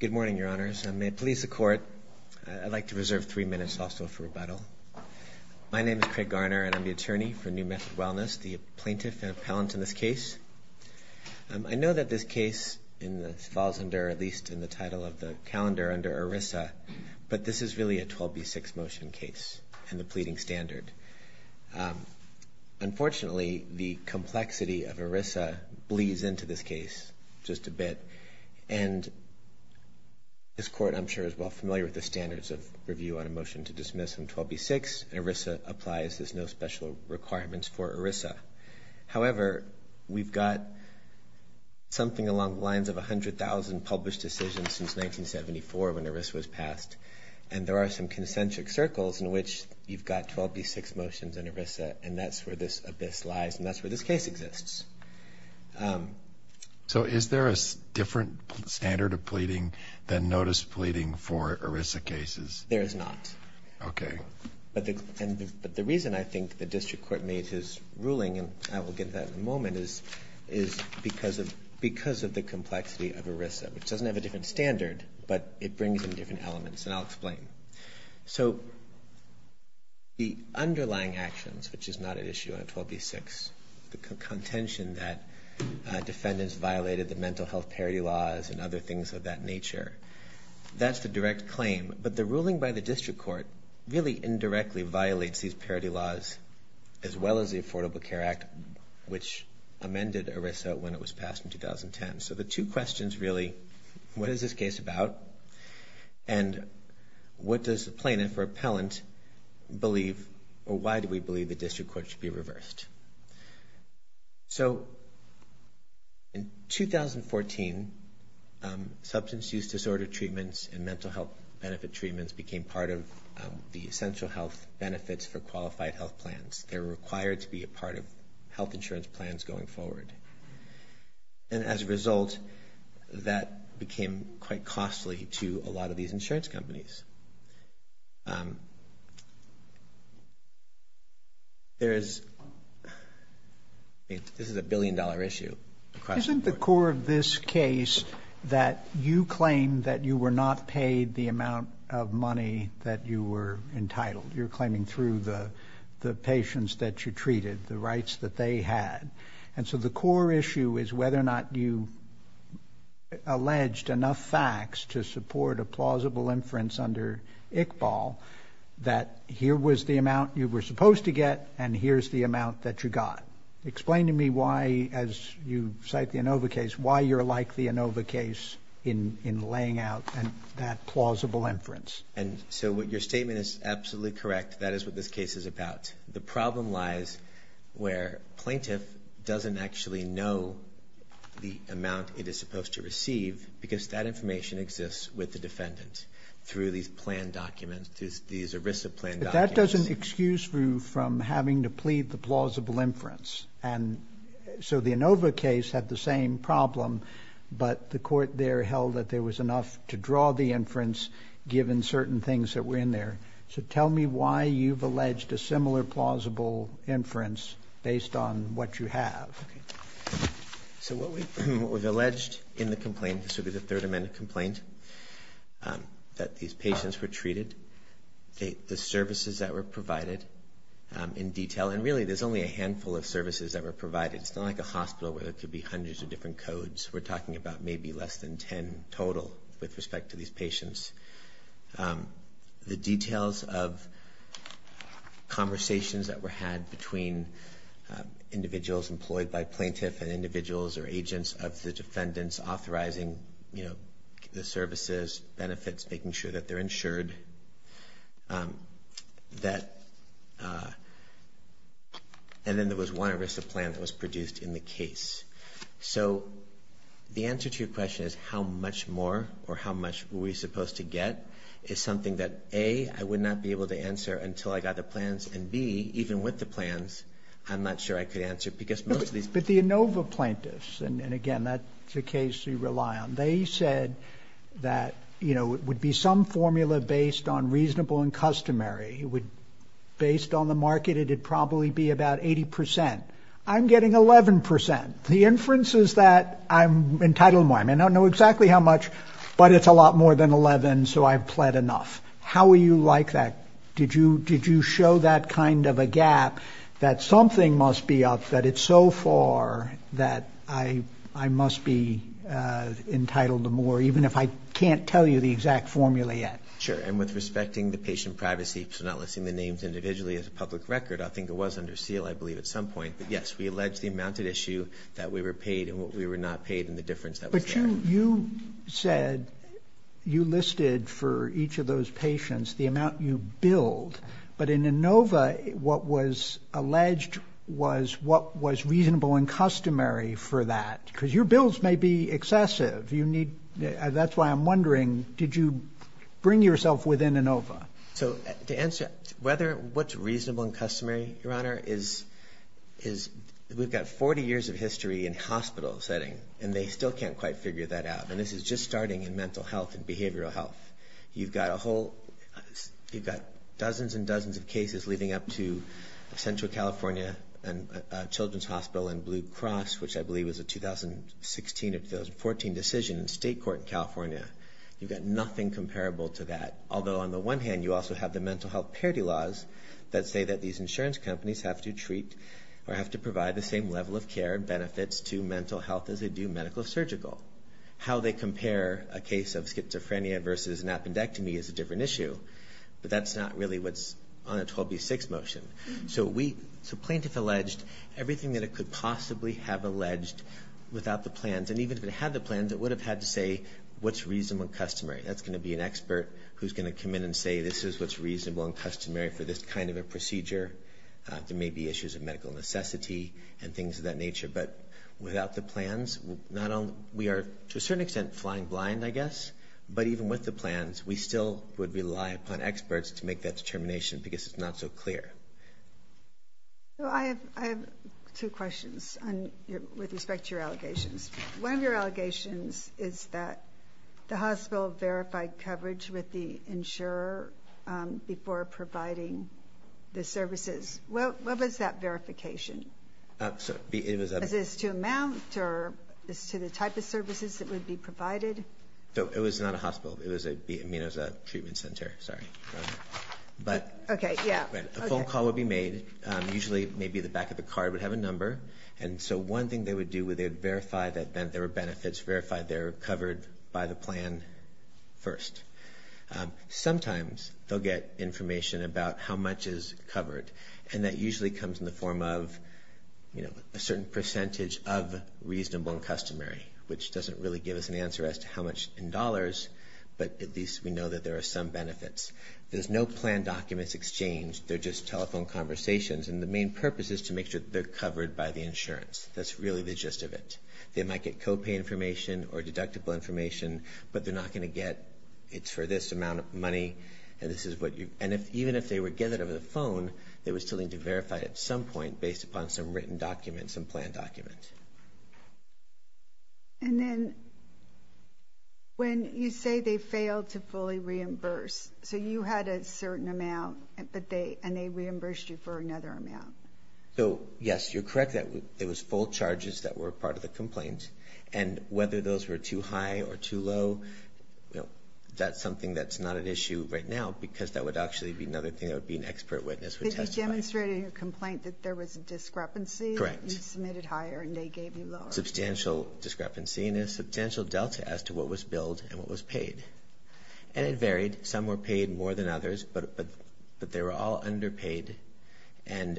Good morning, Your Honors, and may it please the Court, I'd like to reserve three minutes also for rebuttal. My name is Craig Garner, and I'm the attorney for New Method Wellness, the plaintiff and appellant in this case. I know that this case falls under, at least in the title of the calendar, under ERISA, but this is really a 12b6 motion case and a pleading standard. Unfortunately, the complexity of ERISA bleeds into this case just a bit, and this Court, I'm sure, is well familiar with the standards of review on a motion to dismiss from 12b6. ERISA applies. There's no special requirements for ERISA. However, we've got something along the lines of 100,000 published decisions since 1974 when ERISA was passed, and there are some concentric circles in which you've got 12b6 motions in ERISA, and that's where this abyss lies, and that's where this case exists. So is there a different standard of pleading than notice pleading for ERISA cases? There is not. Okay. But the reason I think the District Court made his ruling, and I will get to that in a moment, is because of the complexity of ERISA, which doesn't have a different standard, but it brings in different elements, and I'll explain. So the underlying actions, which is not at issue on 12b6, the contention that defendants violated the mental health parity laws and other things of that nature, that's the direct claim, but the ruling by the District Court really indirectly violates these parity laws as well as the Affordable Care Act, which amended ERISA when it was passed in 2010. So the two questions really, what is this case about, and what does the plaintiff or appellant believe, or why do we believe the District Court should be reversed? So in 2014, substance use disorder treatments and mental health benefit treatments became part of the essential health benefits for qualified health plans. They were required to be a part of health insurance plans going forward. And as a result, that became quite costly to a lot of these insurance companies. There is, this is a billion-dollar issue across the board. Isn't the core of this case that you claim that you were not paid the amount of money that you were entitled? You're claiming through the patients that you treated, the rights that they had. And so the core issue is whether or not you alleged enough facts to support a plausible inference under ICBAL that here was the amount you were supposed to get and here's the amount that you got. Explain to me why, as you cite the Inova case, why you're like the Inova case in laying out that plausible inference. And so what your statement is absolutely correct. That is what this case is about. The problem lies where plaintiff doesn't actually know the amount it is supposed to receive because that information exists with the defendant through these plan documents, these ERISA plan documents. But that doesn't excuse you from having to plead the plausible inference. And so the Inova case had the same problem, but the court there held that there was enough to draw the certain things that were in there. So tell me why you've alleged a similar plausible inference based on what you have. So what we've alleged in the complaint, this would be the Third Amendment complaint, that these patients were treated, the services that were provided in detail, and really there's only a handful of services that were provided. It's not like a hospital where there could be hundreds of different codes. We're talking about maybe less than 10 total with respect to these patients. The details of conversations that were had between individuals employed by plaintiff and individuals or agents of the defendants authorizing the services, benefits, making sure that they're insured. And then there was one ERISA plan that was produced in the case. So the answer to your question is how much more or how much were we supposed to get is something that, A, I would not be able to answer until I got the plans, and, B, even with the plans, I'm not sure I could answer because most of these... But the Inova plaintiffs, and again, that's a case you rely on, they said that it would be some formula based on reasonable and customary. Based on the market, it would probably be about 80%. I'm getting 11%. The inference is that I'm entitled to more. I mean, I don't know exactly how much, but it's a lot more than 11, so I've pled enough. How are you like that? Did you show that kind of a gap, that something must be up, that it's so far that I must be entitled to more, even if I can't tell you the exact formula yet? Sure. And with respecting the patient privacy, so not listing the names individually as a deal, I believe, at some point, but yes, we allege the amount at issue that we were paid and what we were not paid and the difference that was there. But you said you listed for each of those patients the amount you billed, but in Inova, what was alleged was what was reasonable and customary for that, because your bills may be excessive. That's why I'm wondering, did you bring yourself within Inova? So to answer that, what's reasonable and customary, Your Honor, is we've got 40 years of history in a hospital setting, and they still can't quite figure that out. And this is just starting in mental health and behavioral health. You've got dozens and dozens of cases leading up to Central California Children's Hospital and Blue Cross, which I believe was a 2016 or 2014 decision in state court in California. You've got nothing comparable to that. Although on the one hand, you also have the mental health parity laws that say that these insurance companies have to treat or have to provide the same level of care and benefits to mental health as they do medical surgical. How they compare a case of schizophrenia versus an appendectomy is a different issue, but that's not really what's on a 12B6 motion. So plaintiff alleged everything that it could possibly have alleged without the plans, and even if it had the plans, it would have had to say what's reasonable and customary. That's going to be an expert who's going to come in and say, this is what's reasonable and customary for this kind of a procedure. There may be issues of medical necessity and things of that nature, but without the plans, we are to a certain extent flying blind, I guess, but even with the plans, we still would rely upon experts to make that determination because it's not so clear. So I have two questions with respect to your allegations. One of your allegations is that the hospital verified coverage with the insurer before providing the services. What was that verification? Is this to amount or is this to the type of services that would be provided? It was not a hospital. I mean, it was a treatment center. A phone call would be made. Usually maybe the back of the card would have a number, and so one thing they would do would verify that there were benefits, verify they're covered by the plan first. Sometimes they'll get information about how much is covered, and that usually comes in the form of a certain percentage of reasonable and customary, which doesn't really give us an answer as to how much in dollars, but at least we know that there are some benefits. There's no plan documents exchanged. They're just telephone conversations, and the main purpose is to make sure that they're covered by the insurance. That's really the gist of it. They might get co-pay information or deductible information, but they're not going to get it's for this amount of money, and this is what you... And even if they were given it over the phone, they would still need to verify it at some point based upon some written document, some plan document. And then when you say they failed to fully reimburse, so you had a certain amount, and they reimbursed you for another amount. So, yes, you're correct. There was full charges that were part of the complaint, and whether those were too high or too low, that's something that's not an issue right now, because that would actually be another thing that would be an expert witness would testify. But you demonstrated in your complaint that there was a discrepancy. Correct. You submitted higher and they gave you lower. Substantial discrepancy, and a substantial delta as to what was billed and what was paid. And it varied. Some were paid more than others, but they were all underpaid, and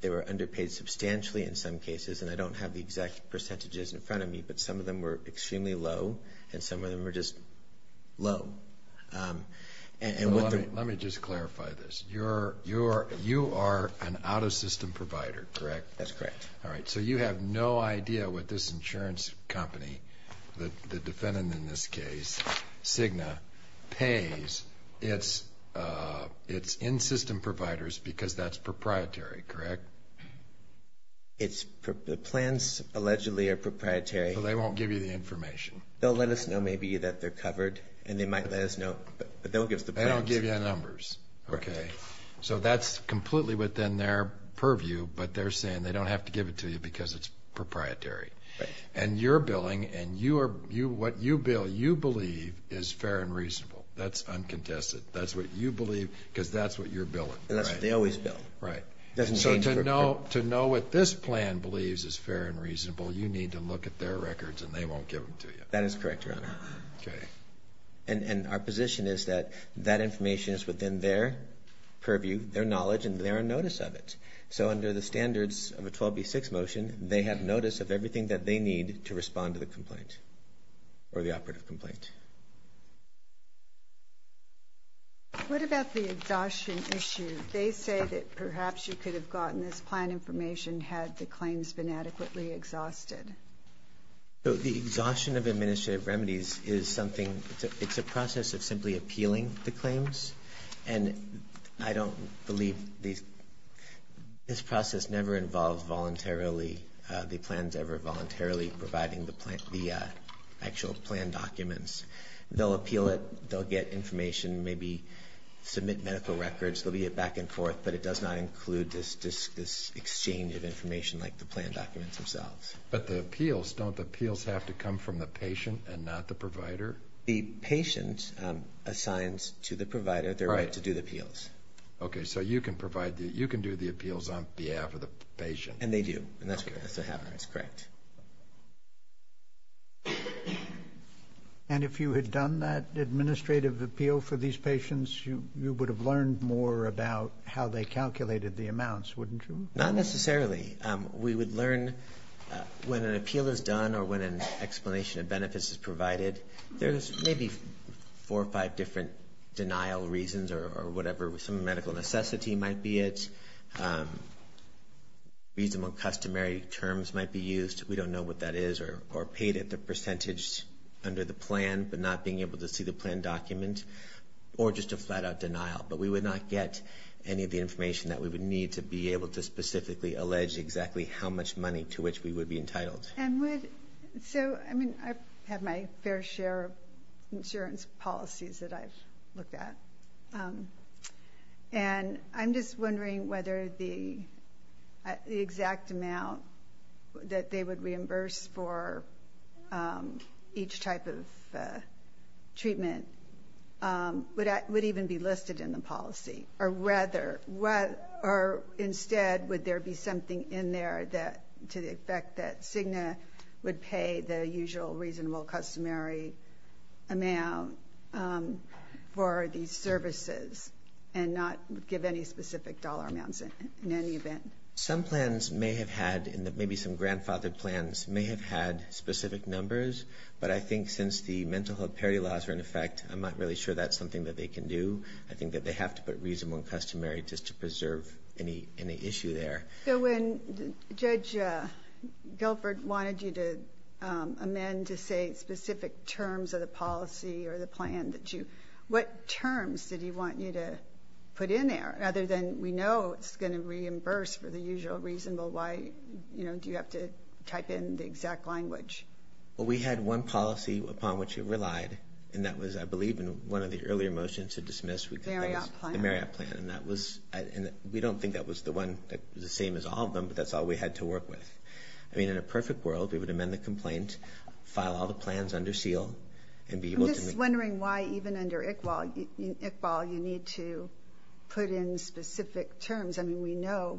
they were underpaid substantially in some cases, and I don't have the exact percentages in front of me, but some of them were extremely low, and some of them were just low. Let me just clarify this. You are an out-of-system provider, correct? That's correct. All right, so you have no idea what this insurance company, the defendant in this case, Cigna, pays its in-system providers because that's proprietary, correct? It's plans allegedly are proprietary. So they won't give you the information? They'll let us know maybe that they're covered, and they might let us know, but they won't give us the plans. They don't give you the numbers, okay? So that's completely within their purview, but they're saying they don't have to give it to you because it's proprietary. And you're billing, and what you bill, you believe is fair and reasonable. That's uncontested. That's what you believe because that's what you're billing, right? And that's what they always bill. Right. And so to know what this plan believes is fair and reasonable, you need to look at their records and they won't give them to you. That is correct, Your Honor. Okay. And our position is that that information is within their purview, their knowledge, and their notice of it. So under the standards of a 12B6 motion, they have notice of everything that they need to respond to the complaint or the operative complaint. What about the exhaustion issue? They say that perhaps you could have gotten this plan information had the claims been adequately exhausted. So the exhaustion of administrative remedies is something, it's a process of simply appealing the claims. And I don't believe these, this process never involved voluntarily, the plans ever voluntarily providing the plan, the actual plan documents. They'll appeal it, they'll get information, maybe submit medical records, they'll be back and forth, but it does not include this exchange of information like the plan documents themselves. But the appeals, don't the appeals have to come from the patient and not the provider? The patient assigns to the provider their right to do the appeals. Okay, so you can provide, you can do the appeals on behalf of the patient. And they do, and that's what happens, correct. And if you had done that administrative appeal for these patients, you would have learned more about how they calculated the amounts, wouldn't you? Not necessarily. We would learn when an appeal is done or when an explanation of benefits is provided, there's maybe four or five different denial reasons or whatever, some medical necessity might be it, reasonable customary terms might be used, we don't know what that is, or paid at the percentage under the plan, but not being able to see the plan document, or just a flat out denial. But we would not get any of the information that we would need to be able to specifically allege exactly how much money to which we would be entitled. And would, so I mean, I have my fair share of insurance policies that I've looked at. And I'm just wondering whether the exact amount that they would reimburse for each type of treatment would even be listed in the policy, or rather, or instead, would there be something in there to the effect that Cigna would pay the usual reasonable customary amount for these services and not give any specific dollar amounts in any event? Some plans may have had, maybe some grandfathered plans, may have had specific numbers. But I think since the mental health parity laws are in effect, I'm not really sure that's something that they can do. I think that they have to put reasonable and customary just to preserve any issue there. So when Judge Guilford wanted you to amend to say specific terms of the policy or the plan, what terms did he want you to put in there, other than we know it's going to reimburse for the usual reasonable, why do you have to type in the exact language? Well, we had one policy upon which it relied, and that was, I believe, in one of the earlier motions to dismiss the Marriott plan, and that was, and we don't think that was the one that was the same as all of them, but that's all we had to work with. I mean, in a perfect world, we would amend the complaint, file all the plans under seal, and be able to... I'm just wondering why, even under ICBAL, you need to put in specific terms. I mean, we know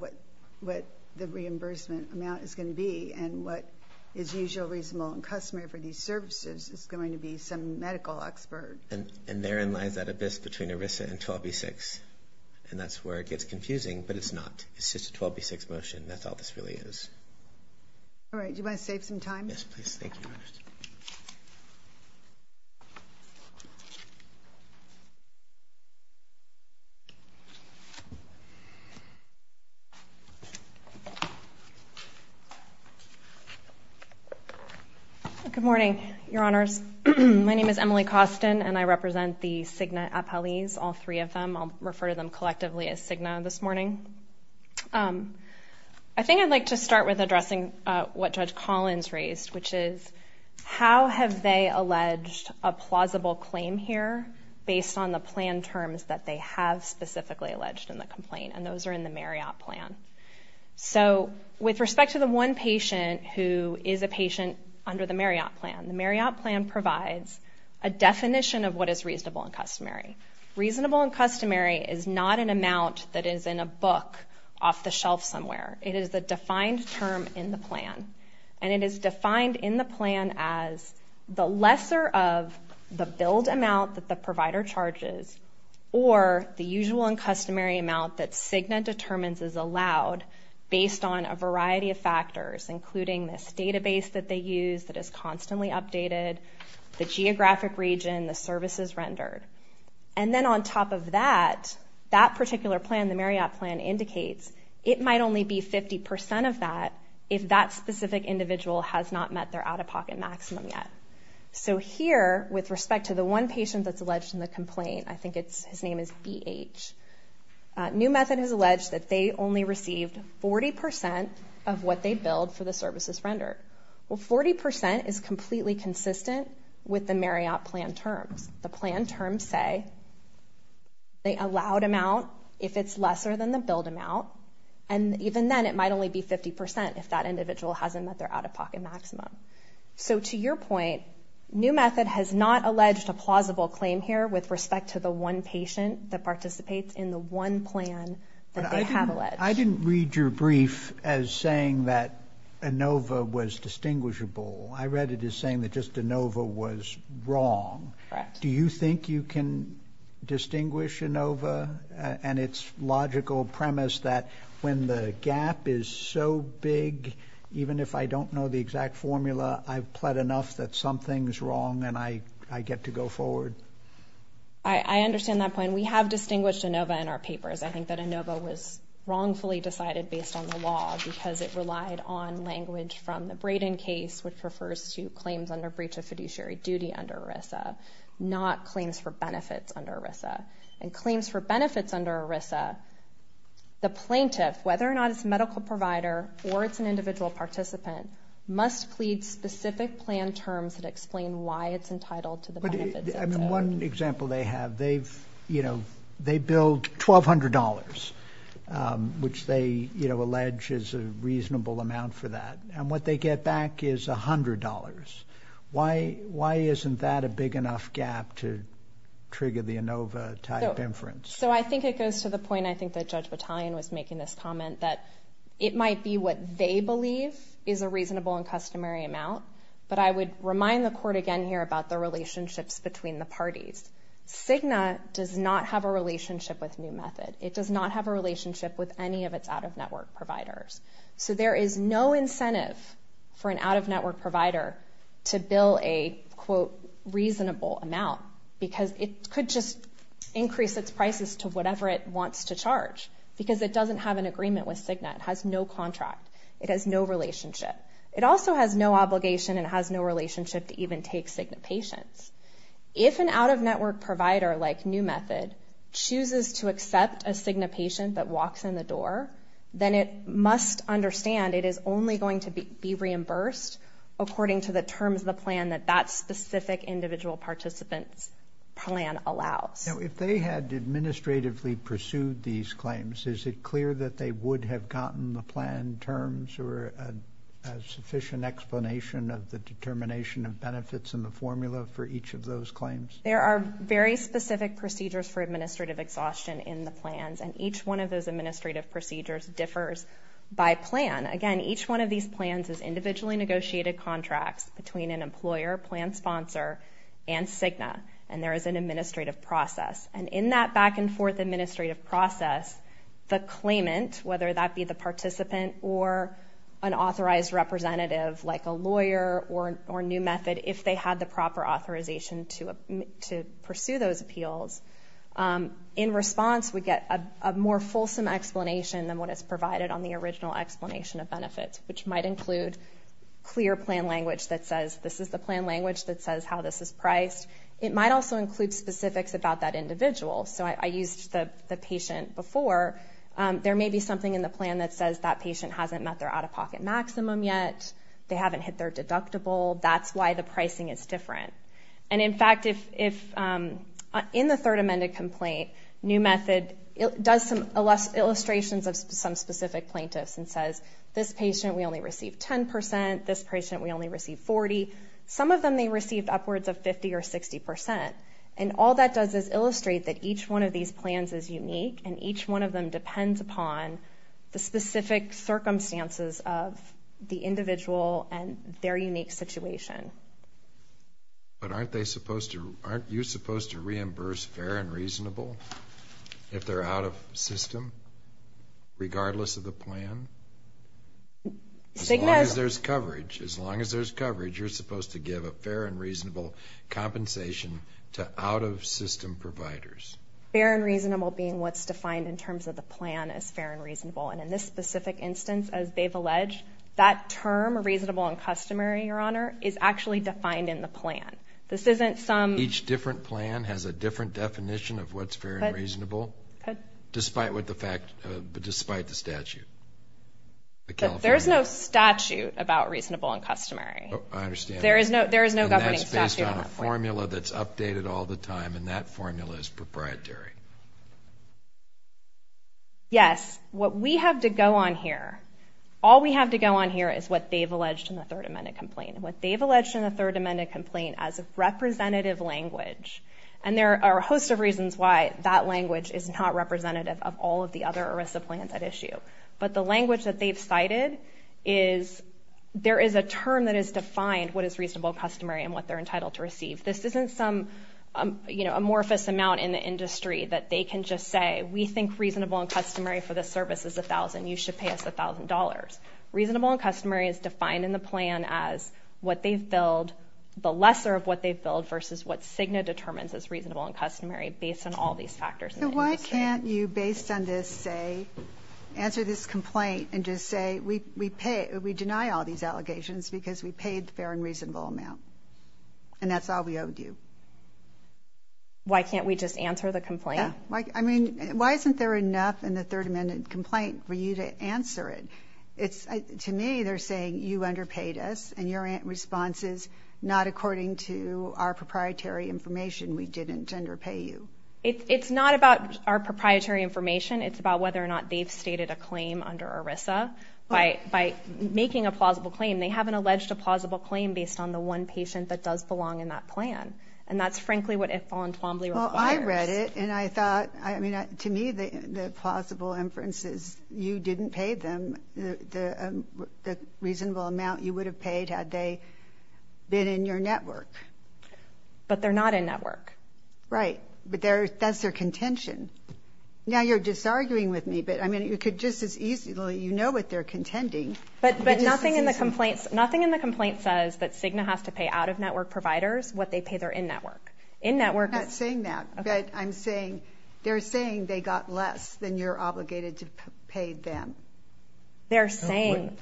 what the reimbursement amount is going to be, and what is usual, reasonable, and customary for these services is going to be some medical expert. And therein lies that abyss between ERISA and 12B6, and that's where it gets confusing, but it's not. It's just a 12B6 motion. That's all this really is. All right. Yes, please. Thank you, Your Honor. Good morning, Your Honors. My name is Emily Costin, and I represent the Cigna appellees, all three of them. I'll refer to them collectively as Cigna this morning. I think I'd like to start with addressing what Judge Collins raised, which is, how have they alleged a plausible claim here based on the plan terms that they have specifically alleged in the complaint, and those are in the Marriott plan. So, with respect to the one patient who is a patient under the Marriott plan, the Marriott plan provides a definition of what is reasonable and customary. Reasonable and customary is not an amount that is in a book off the shelf somewhere. It is a defined term in the plan, and it is defined in the plan as the lesser of the billed customary amount that Cigna determines is allowed based on a variety of factors, including this database that they use that is constantly updated, the geographic region, the services rendered. And then on top of that, that particular plan, the Marriott plan, indicates it might only be 50% of that if that specific individual has not met their out-of-pocket maximum yet. So, here, with respect to the one patient that's alleged in the complaint, I think his name is BH, New Method has alleged that they only received 40% of what they billed for the services rendered. Well, 40% is completely consistent with the Marriott plan terms. The plan terms say the allowed amount if it's lesser than the billed amount, and even then it might only be 50% if that individual hasn't met their out-of-pocket maximum. So, to your point, New Method has not alleged a plausible claim here with respect to the one patient that participates in the one plan that they have alleged. I didn't read your brief as saying that ANOVA was distinguishable. I read it as saying that just ANOVA was wrong. Correct. Do you think you can distinguish ANOVA and its logical premise that when the gap is so big, even if I don't know the exact formula, I've pled enough that something's wrong and I get to go forward? I understand that point. We have distinguished ANOVA in our papers. I think that ANOVA was wrongfully decided based on the law because it relied on language from the Braden case, which refers to claims under breach of fiduciary duty under ERISA, not claims for benefits under ERISA. And claims for benefits under ERISA, the plaintiff, whether or not it's a medical provider or it's an individual participant, must plead specific plan terms that explain why it's entitled to the benefits. One example they have, they've, you know, they billed $1,200, which they, you know, allege is a reasonable amount for that. And what they get back is $100. Why isn't that a big enough gap to trigger the ANOVA type inference? So I think it goes to the point I think that Judge Battalion was making this comment, that it might be what they believe is a reasonable and customary amount, but I would remind the court again here about the relationships between the parties. Cigna does not have a relationship with New Method. It does not have a relationship with any of its out-of-network providers. So there is no incentive for an out-of-network provider to bill a, quote, reasonable amount because it could just increase its prices to whatever it wants to charge because it doesn't have an agreement with Cigna. It has no contract. It has no relationship. It also has no obligation and has no relationship to even take Cigna patients. If an out-of-network provider like New Method chooses to accept a Cigna patient that walks in the door, then it must understand it is only going to be reimbursed according to the terms of the plan that that specific individual participant's plan allows. Now, if they had administratively pursued these claims, is it clear that they would have gotten the plan terms or a sufficient explanation of the determination of benefits in the formula for each of those claims? There are very specific procedures for administrative exhaustion in the plans, and each one of those administrative procedures differs by plan. Again, each one of these plans is individually negotiated contracts between an employer, plan sponsor, and Cigna, and there is an administrative process. And in that back-and-forth administrative process, the claimant, whether that be the participant or an authorized representative like a lawyer or New Method, if they had the proper authorization to pursue those appeals, in response we get a more fulsome explanation than what is provided on the original explanation of benefits, which might include clear plan language that says this is the plan language that says how this is priced. It might also include specifics about that individual. So I used the patient before. There may be something in the plan that says that patient hasn't met their out-of-pocket maximum yet, they haven't hit their deductible, that's why the pricing is different. And in fact, in the third amended complaint, New Method does some illustrations of some specific plaintiffs and says this patient we only received 10%, this patient we only received 40%, some of them they received upwards of 50% or 60%. And all that does is illustrate that each one of these plans is unique, and each one of them depends upon the specific circumstances of the individual and their unique situation. But aren't they supposed to, aren't you supposed to reimburse fair and reasonable if they're out of system, regardless of the plan? As long as there's coverage, as long as there's coverage, you're supposed to give a fair and reasonable compensation to out-of-system providers. Fair and reasonable being what's defined in terms of the plan as fair and reasonable. And in this specific instance, as they've alleged, that term, reasonable and customary, Your Honor, is actually defined in the plan. Each different plan has a different definition of what's fair and reasonable, despite the statute. There's no statute about reasonable and customary. I understand. And that's based on a formula that's updated all the time, and that formula is proprietary. Yes, what we have to go on here, all we have to go on here is what they've alleged in the Third Amendment complaint. And what they've alleged in the Third Amendment complaint as a representative language, and there are a host of reasons why that language is not representative of all of the other ERISA plans at issue. But the language that they've cited is, there is a term that is defined, what is reasonable and customary, and what they're entitled to receive. This isn't some amorphous amount in the industry that they can just say, we think reasonable and customary for this service is $1,000, you should pay us $1,000. Reasonable and customary is defined in the plan as what they've billed, the lesser of what they've billed, versus what CIGNA determines as reasonable and customary, based on all these factors. So why can't you, based on this, say, answer this complaint and just say, we pay, we deny all these allegations because we paid the fair and reasonable amount, and that's all we owe you? Why can't we just answer the complaint? I mean, why isn't there enough in the Third Amendment complaint for you to answer it? To me, they're saying, you underpaid us, and your response is, not according to our proprietary information, we didn't underpay you. It's not about our proprietary information, it's about whether or not they've stated a claim under ERISA by making a plausible claim. They haven't alleged a plausible claim based on the one patient that does belong in that plan, and that's frankly what it voluntarily requires. Well, I read it, and I thought, I mean, to me, the plausible inference is, you didn't pay them the reasonable amount you would have paid had they been in your network. But they're not in network. Right, but that's their contention. Now, you're disarguing with me, but, I mean, you could just as easily, you know what they're contending. But nothing in the complaint says that Cigna has to pay out-of-network providers what they pay their in-network. I'm not saying that, but I'm saying, they're saying they got less than you're obligated to pay them. They're saying.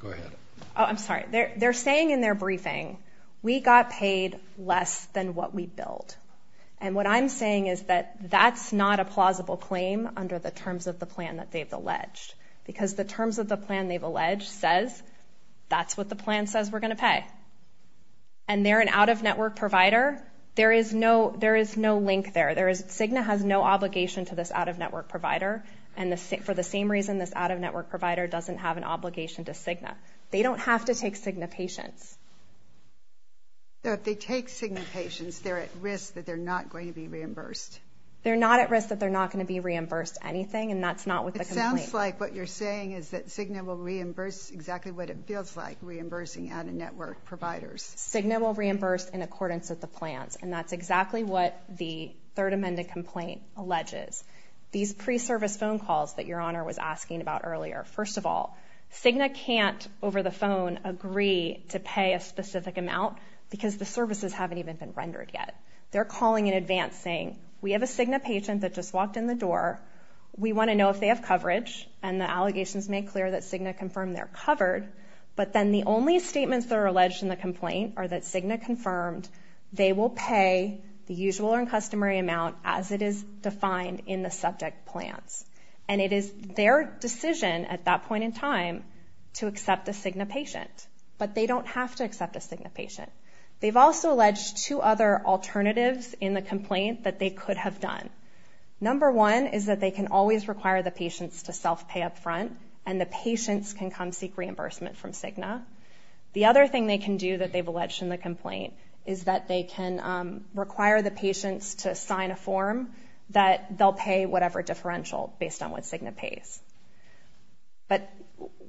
Go ahead. Oh, I'm sorry. They're saying in their briefing, we got paid less than what we billed. And what I'm saying is that that's not a plausible claim under the terms of the plan that they've alleged, because the terms of the plan they've alleged says that's what the plan says we're going to pay. And they're an out-of-network provider. There is no link there. Cigna has no obligation to this out-of-network provider, and for the same reason this out-of-network provider doesn't have an obligation to Cigna. They don't have to take Cigna patients. So if they take Cigna patients, they're at risk that they're not going to be reimbursed? They're not at risk that they're not going to be reimbursed anything, and that's not with the complaint. It sounds like what you're saying is that Cigna will reimburse exactly what it feels like, reimbursing out-of-network providers. Cigna will reimburse in accordance with the plans, and that's exactly what the Third Amendment complaint alleges. These pre-service phone calls that Your Honor was asking about earlier, first of all, Cigna can't over the phone agree to pay a specific amount because the services haven't even been rendered yet. They're calling in advance saying, we have a Cigna patient that just walked in the door. We want to know if they have coverage, and the allegations make clear that Cigna confirmed they're covered. But then the only statements that are alleged in the complaint are that Cigna confirmed they will pay the usual or customary amount as it is defined in the subject plans. And it is their decision at that point in time to accept a Cigna patient, but they don't have to accept a Cigna patient. They've also alleged two other alternatives in the complaint that they could have done. Number one is that they can always require the patients to self-pay up front, and the patients can come seek reimbursement from Cigna. The other thing they can do that they've alleged in the complaint is that they can require the patients to sign a form that they'll pay whatever differential based on what Cigna pays. But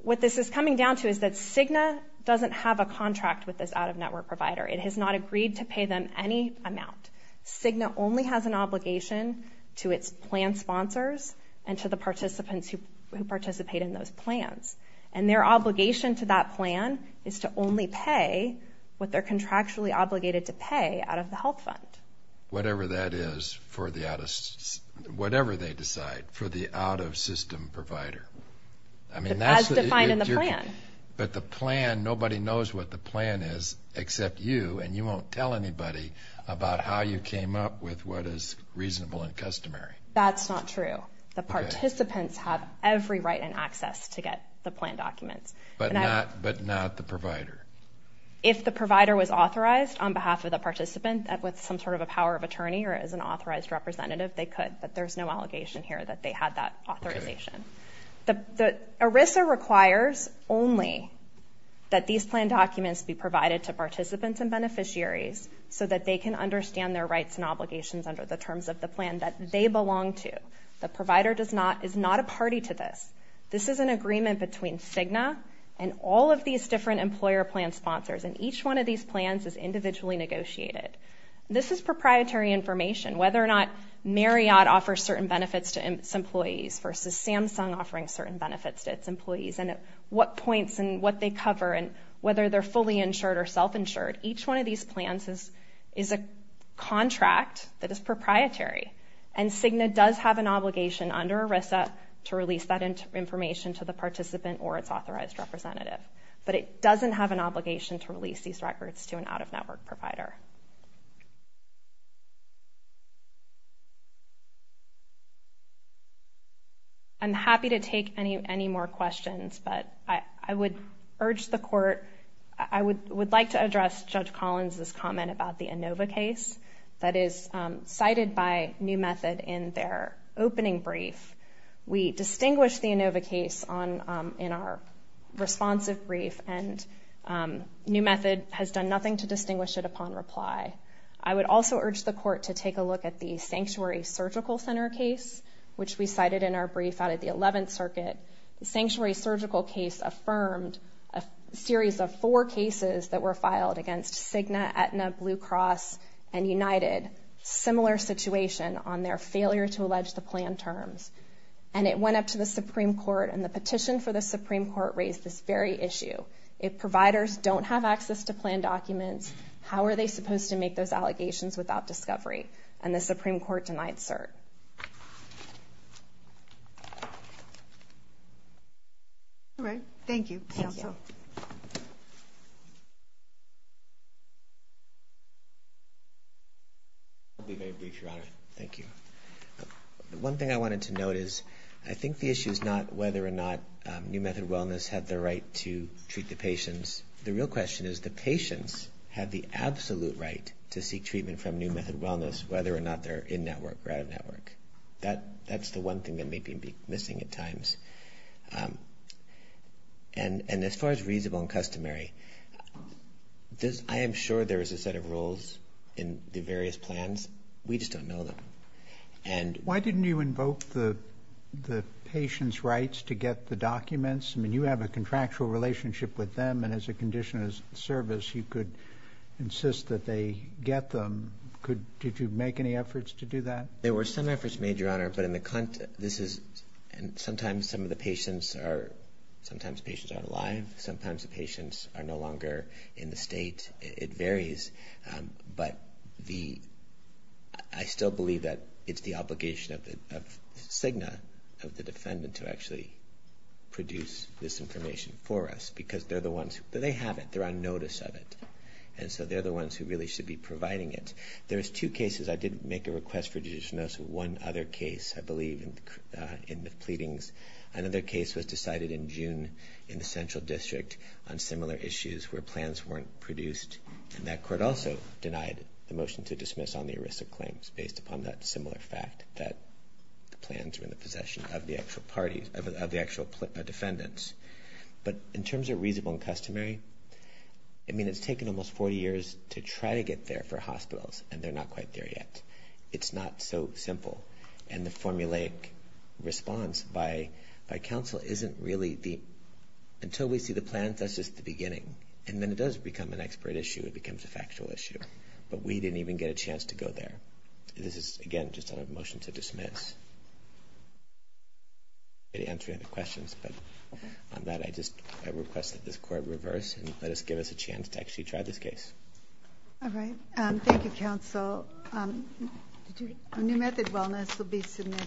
what this is coming down to is that Cigna doesn't have a contract with this out-of-network provider. It has not agreed to pay them any amount. Cigna only has an obligation to its plan sponsors and to the participants who participate in those plans. And their obligation to that plan is to only pay what they're contractually obligated to pay out of the health fund. Whatever that is for the out-of-system provider. As defined in the plan. But the plan, nobody knows what the plan is except you, and you won't tell anybody about how you came up with what is reasonable and customary. That's not true. The participants have every right and access to get the plan documents. But not the provider. If the provider was authorized on behalf of the participant with some sort of a power of attorney or as an authorized representative, they could. But there's no allegation here that they had that authorization. ERISA requires only that these plan documents be provided to participants and beneficiaries so that they can understand their rights and obligations under the terms of the plan that they belong to. The provider is not a party to this. This is an agreement between Cigna and all of these different employer plan sponsors. And each one of these plans is individually negotiated. This is proprietary information, whether or not Marriott offers certain benefits to its employees versus Samsung offering certain benefits to its employees, and at what points and what they cover and whether they're fully insured or self-insured. Each one of these plans is a contract that is proprietary. And Cigna does have an obligation under ERISA to release that information to the participant or its authorized representative. But it doesn't have an obligation to release these records to an out-of-network provider. I'm happy to take any more questions, but I would urge the court, I would like to address Judge Collins' comment about the Inova case that is cited by New Method in their opening brief. We distinguished the Inova case in our responsive brief, and New Method has done nothing to distinguish it upon reply. I would also urge the court to take a look at the Sanctuary Surgical Center case, which we cited in our brief out of the 11th Circuit. The Sanctuary Surgical case affirmed a series of four cases that were filed against Cigna, Aetna, Blue Cross, and United, similar situation on their failure to allege the plan terms. And it went up to the Supreme Court, and the petition for the Supreme Court raised this very issue. If providers don't have access to plan documents, how are they supposed to make those allegations without discovery? And the Supreme Court denied cert. All right. Thank you. Thank you. I'll be very brief, Your Honor. Thank you. One thing I wanted to note is I think the issue is not whether or not New Method Wellness had the right to treat the patients. The real question is the patients had the absolute right to seek treatment from New Method Wellness, whether or not they're in-network or out-of-network. That's the one thing that may be missing at times. And as far as reasonable and customary, I am sure there is a set of rules in the various plans. We just don't know them. Why didn't you invoke the patients' rights to get the documents? I mean, you have a contractual relationship with them, and as a condition of service, you could insist that they get them. Did you make any efforts to do that? There were some efforts made, Your Honor, but sometimes patients aren't alive. Sometimes the patients are no longer in the state. It varies, but I still believe that it's the obligation of CIGNA, of the defendant, to actually produce this information for us because they're the ones who have it. They're on notice of it, and so they're the ones who really should be providing it. There's two cases. I did make a request for judicial notice of one other case, I believe, in the pleadings. Another case was decided in June in the Central District on similar issues where plans weren't produced, and that court also denied the motion to dismiss on the ERISA claims based upon that similar fact that the plans were in the possession of the actual defendants. But in terms of reasonable and customary, I mean, it's taken almost 40 years to try to get there for hospitals, and they're not quite there yet. It's not so simple, and the formulaic response by counsel isn't really the – until we see the plans, that's just the beginning, and then it does become an expert issue. It becomes a factual issue, but we didn't even get a chance to go there. This is, again, just a motion to dismiss. I can't answer any other questions, but on that, I just request that this court reverse and let us give us a chance to actually try this case. All right. Thank you, counsel. A new method of wellness will be submitted.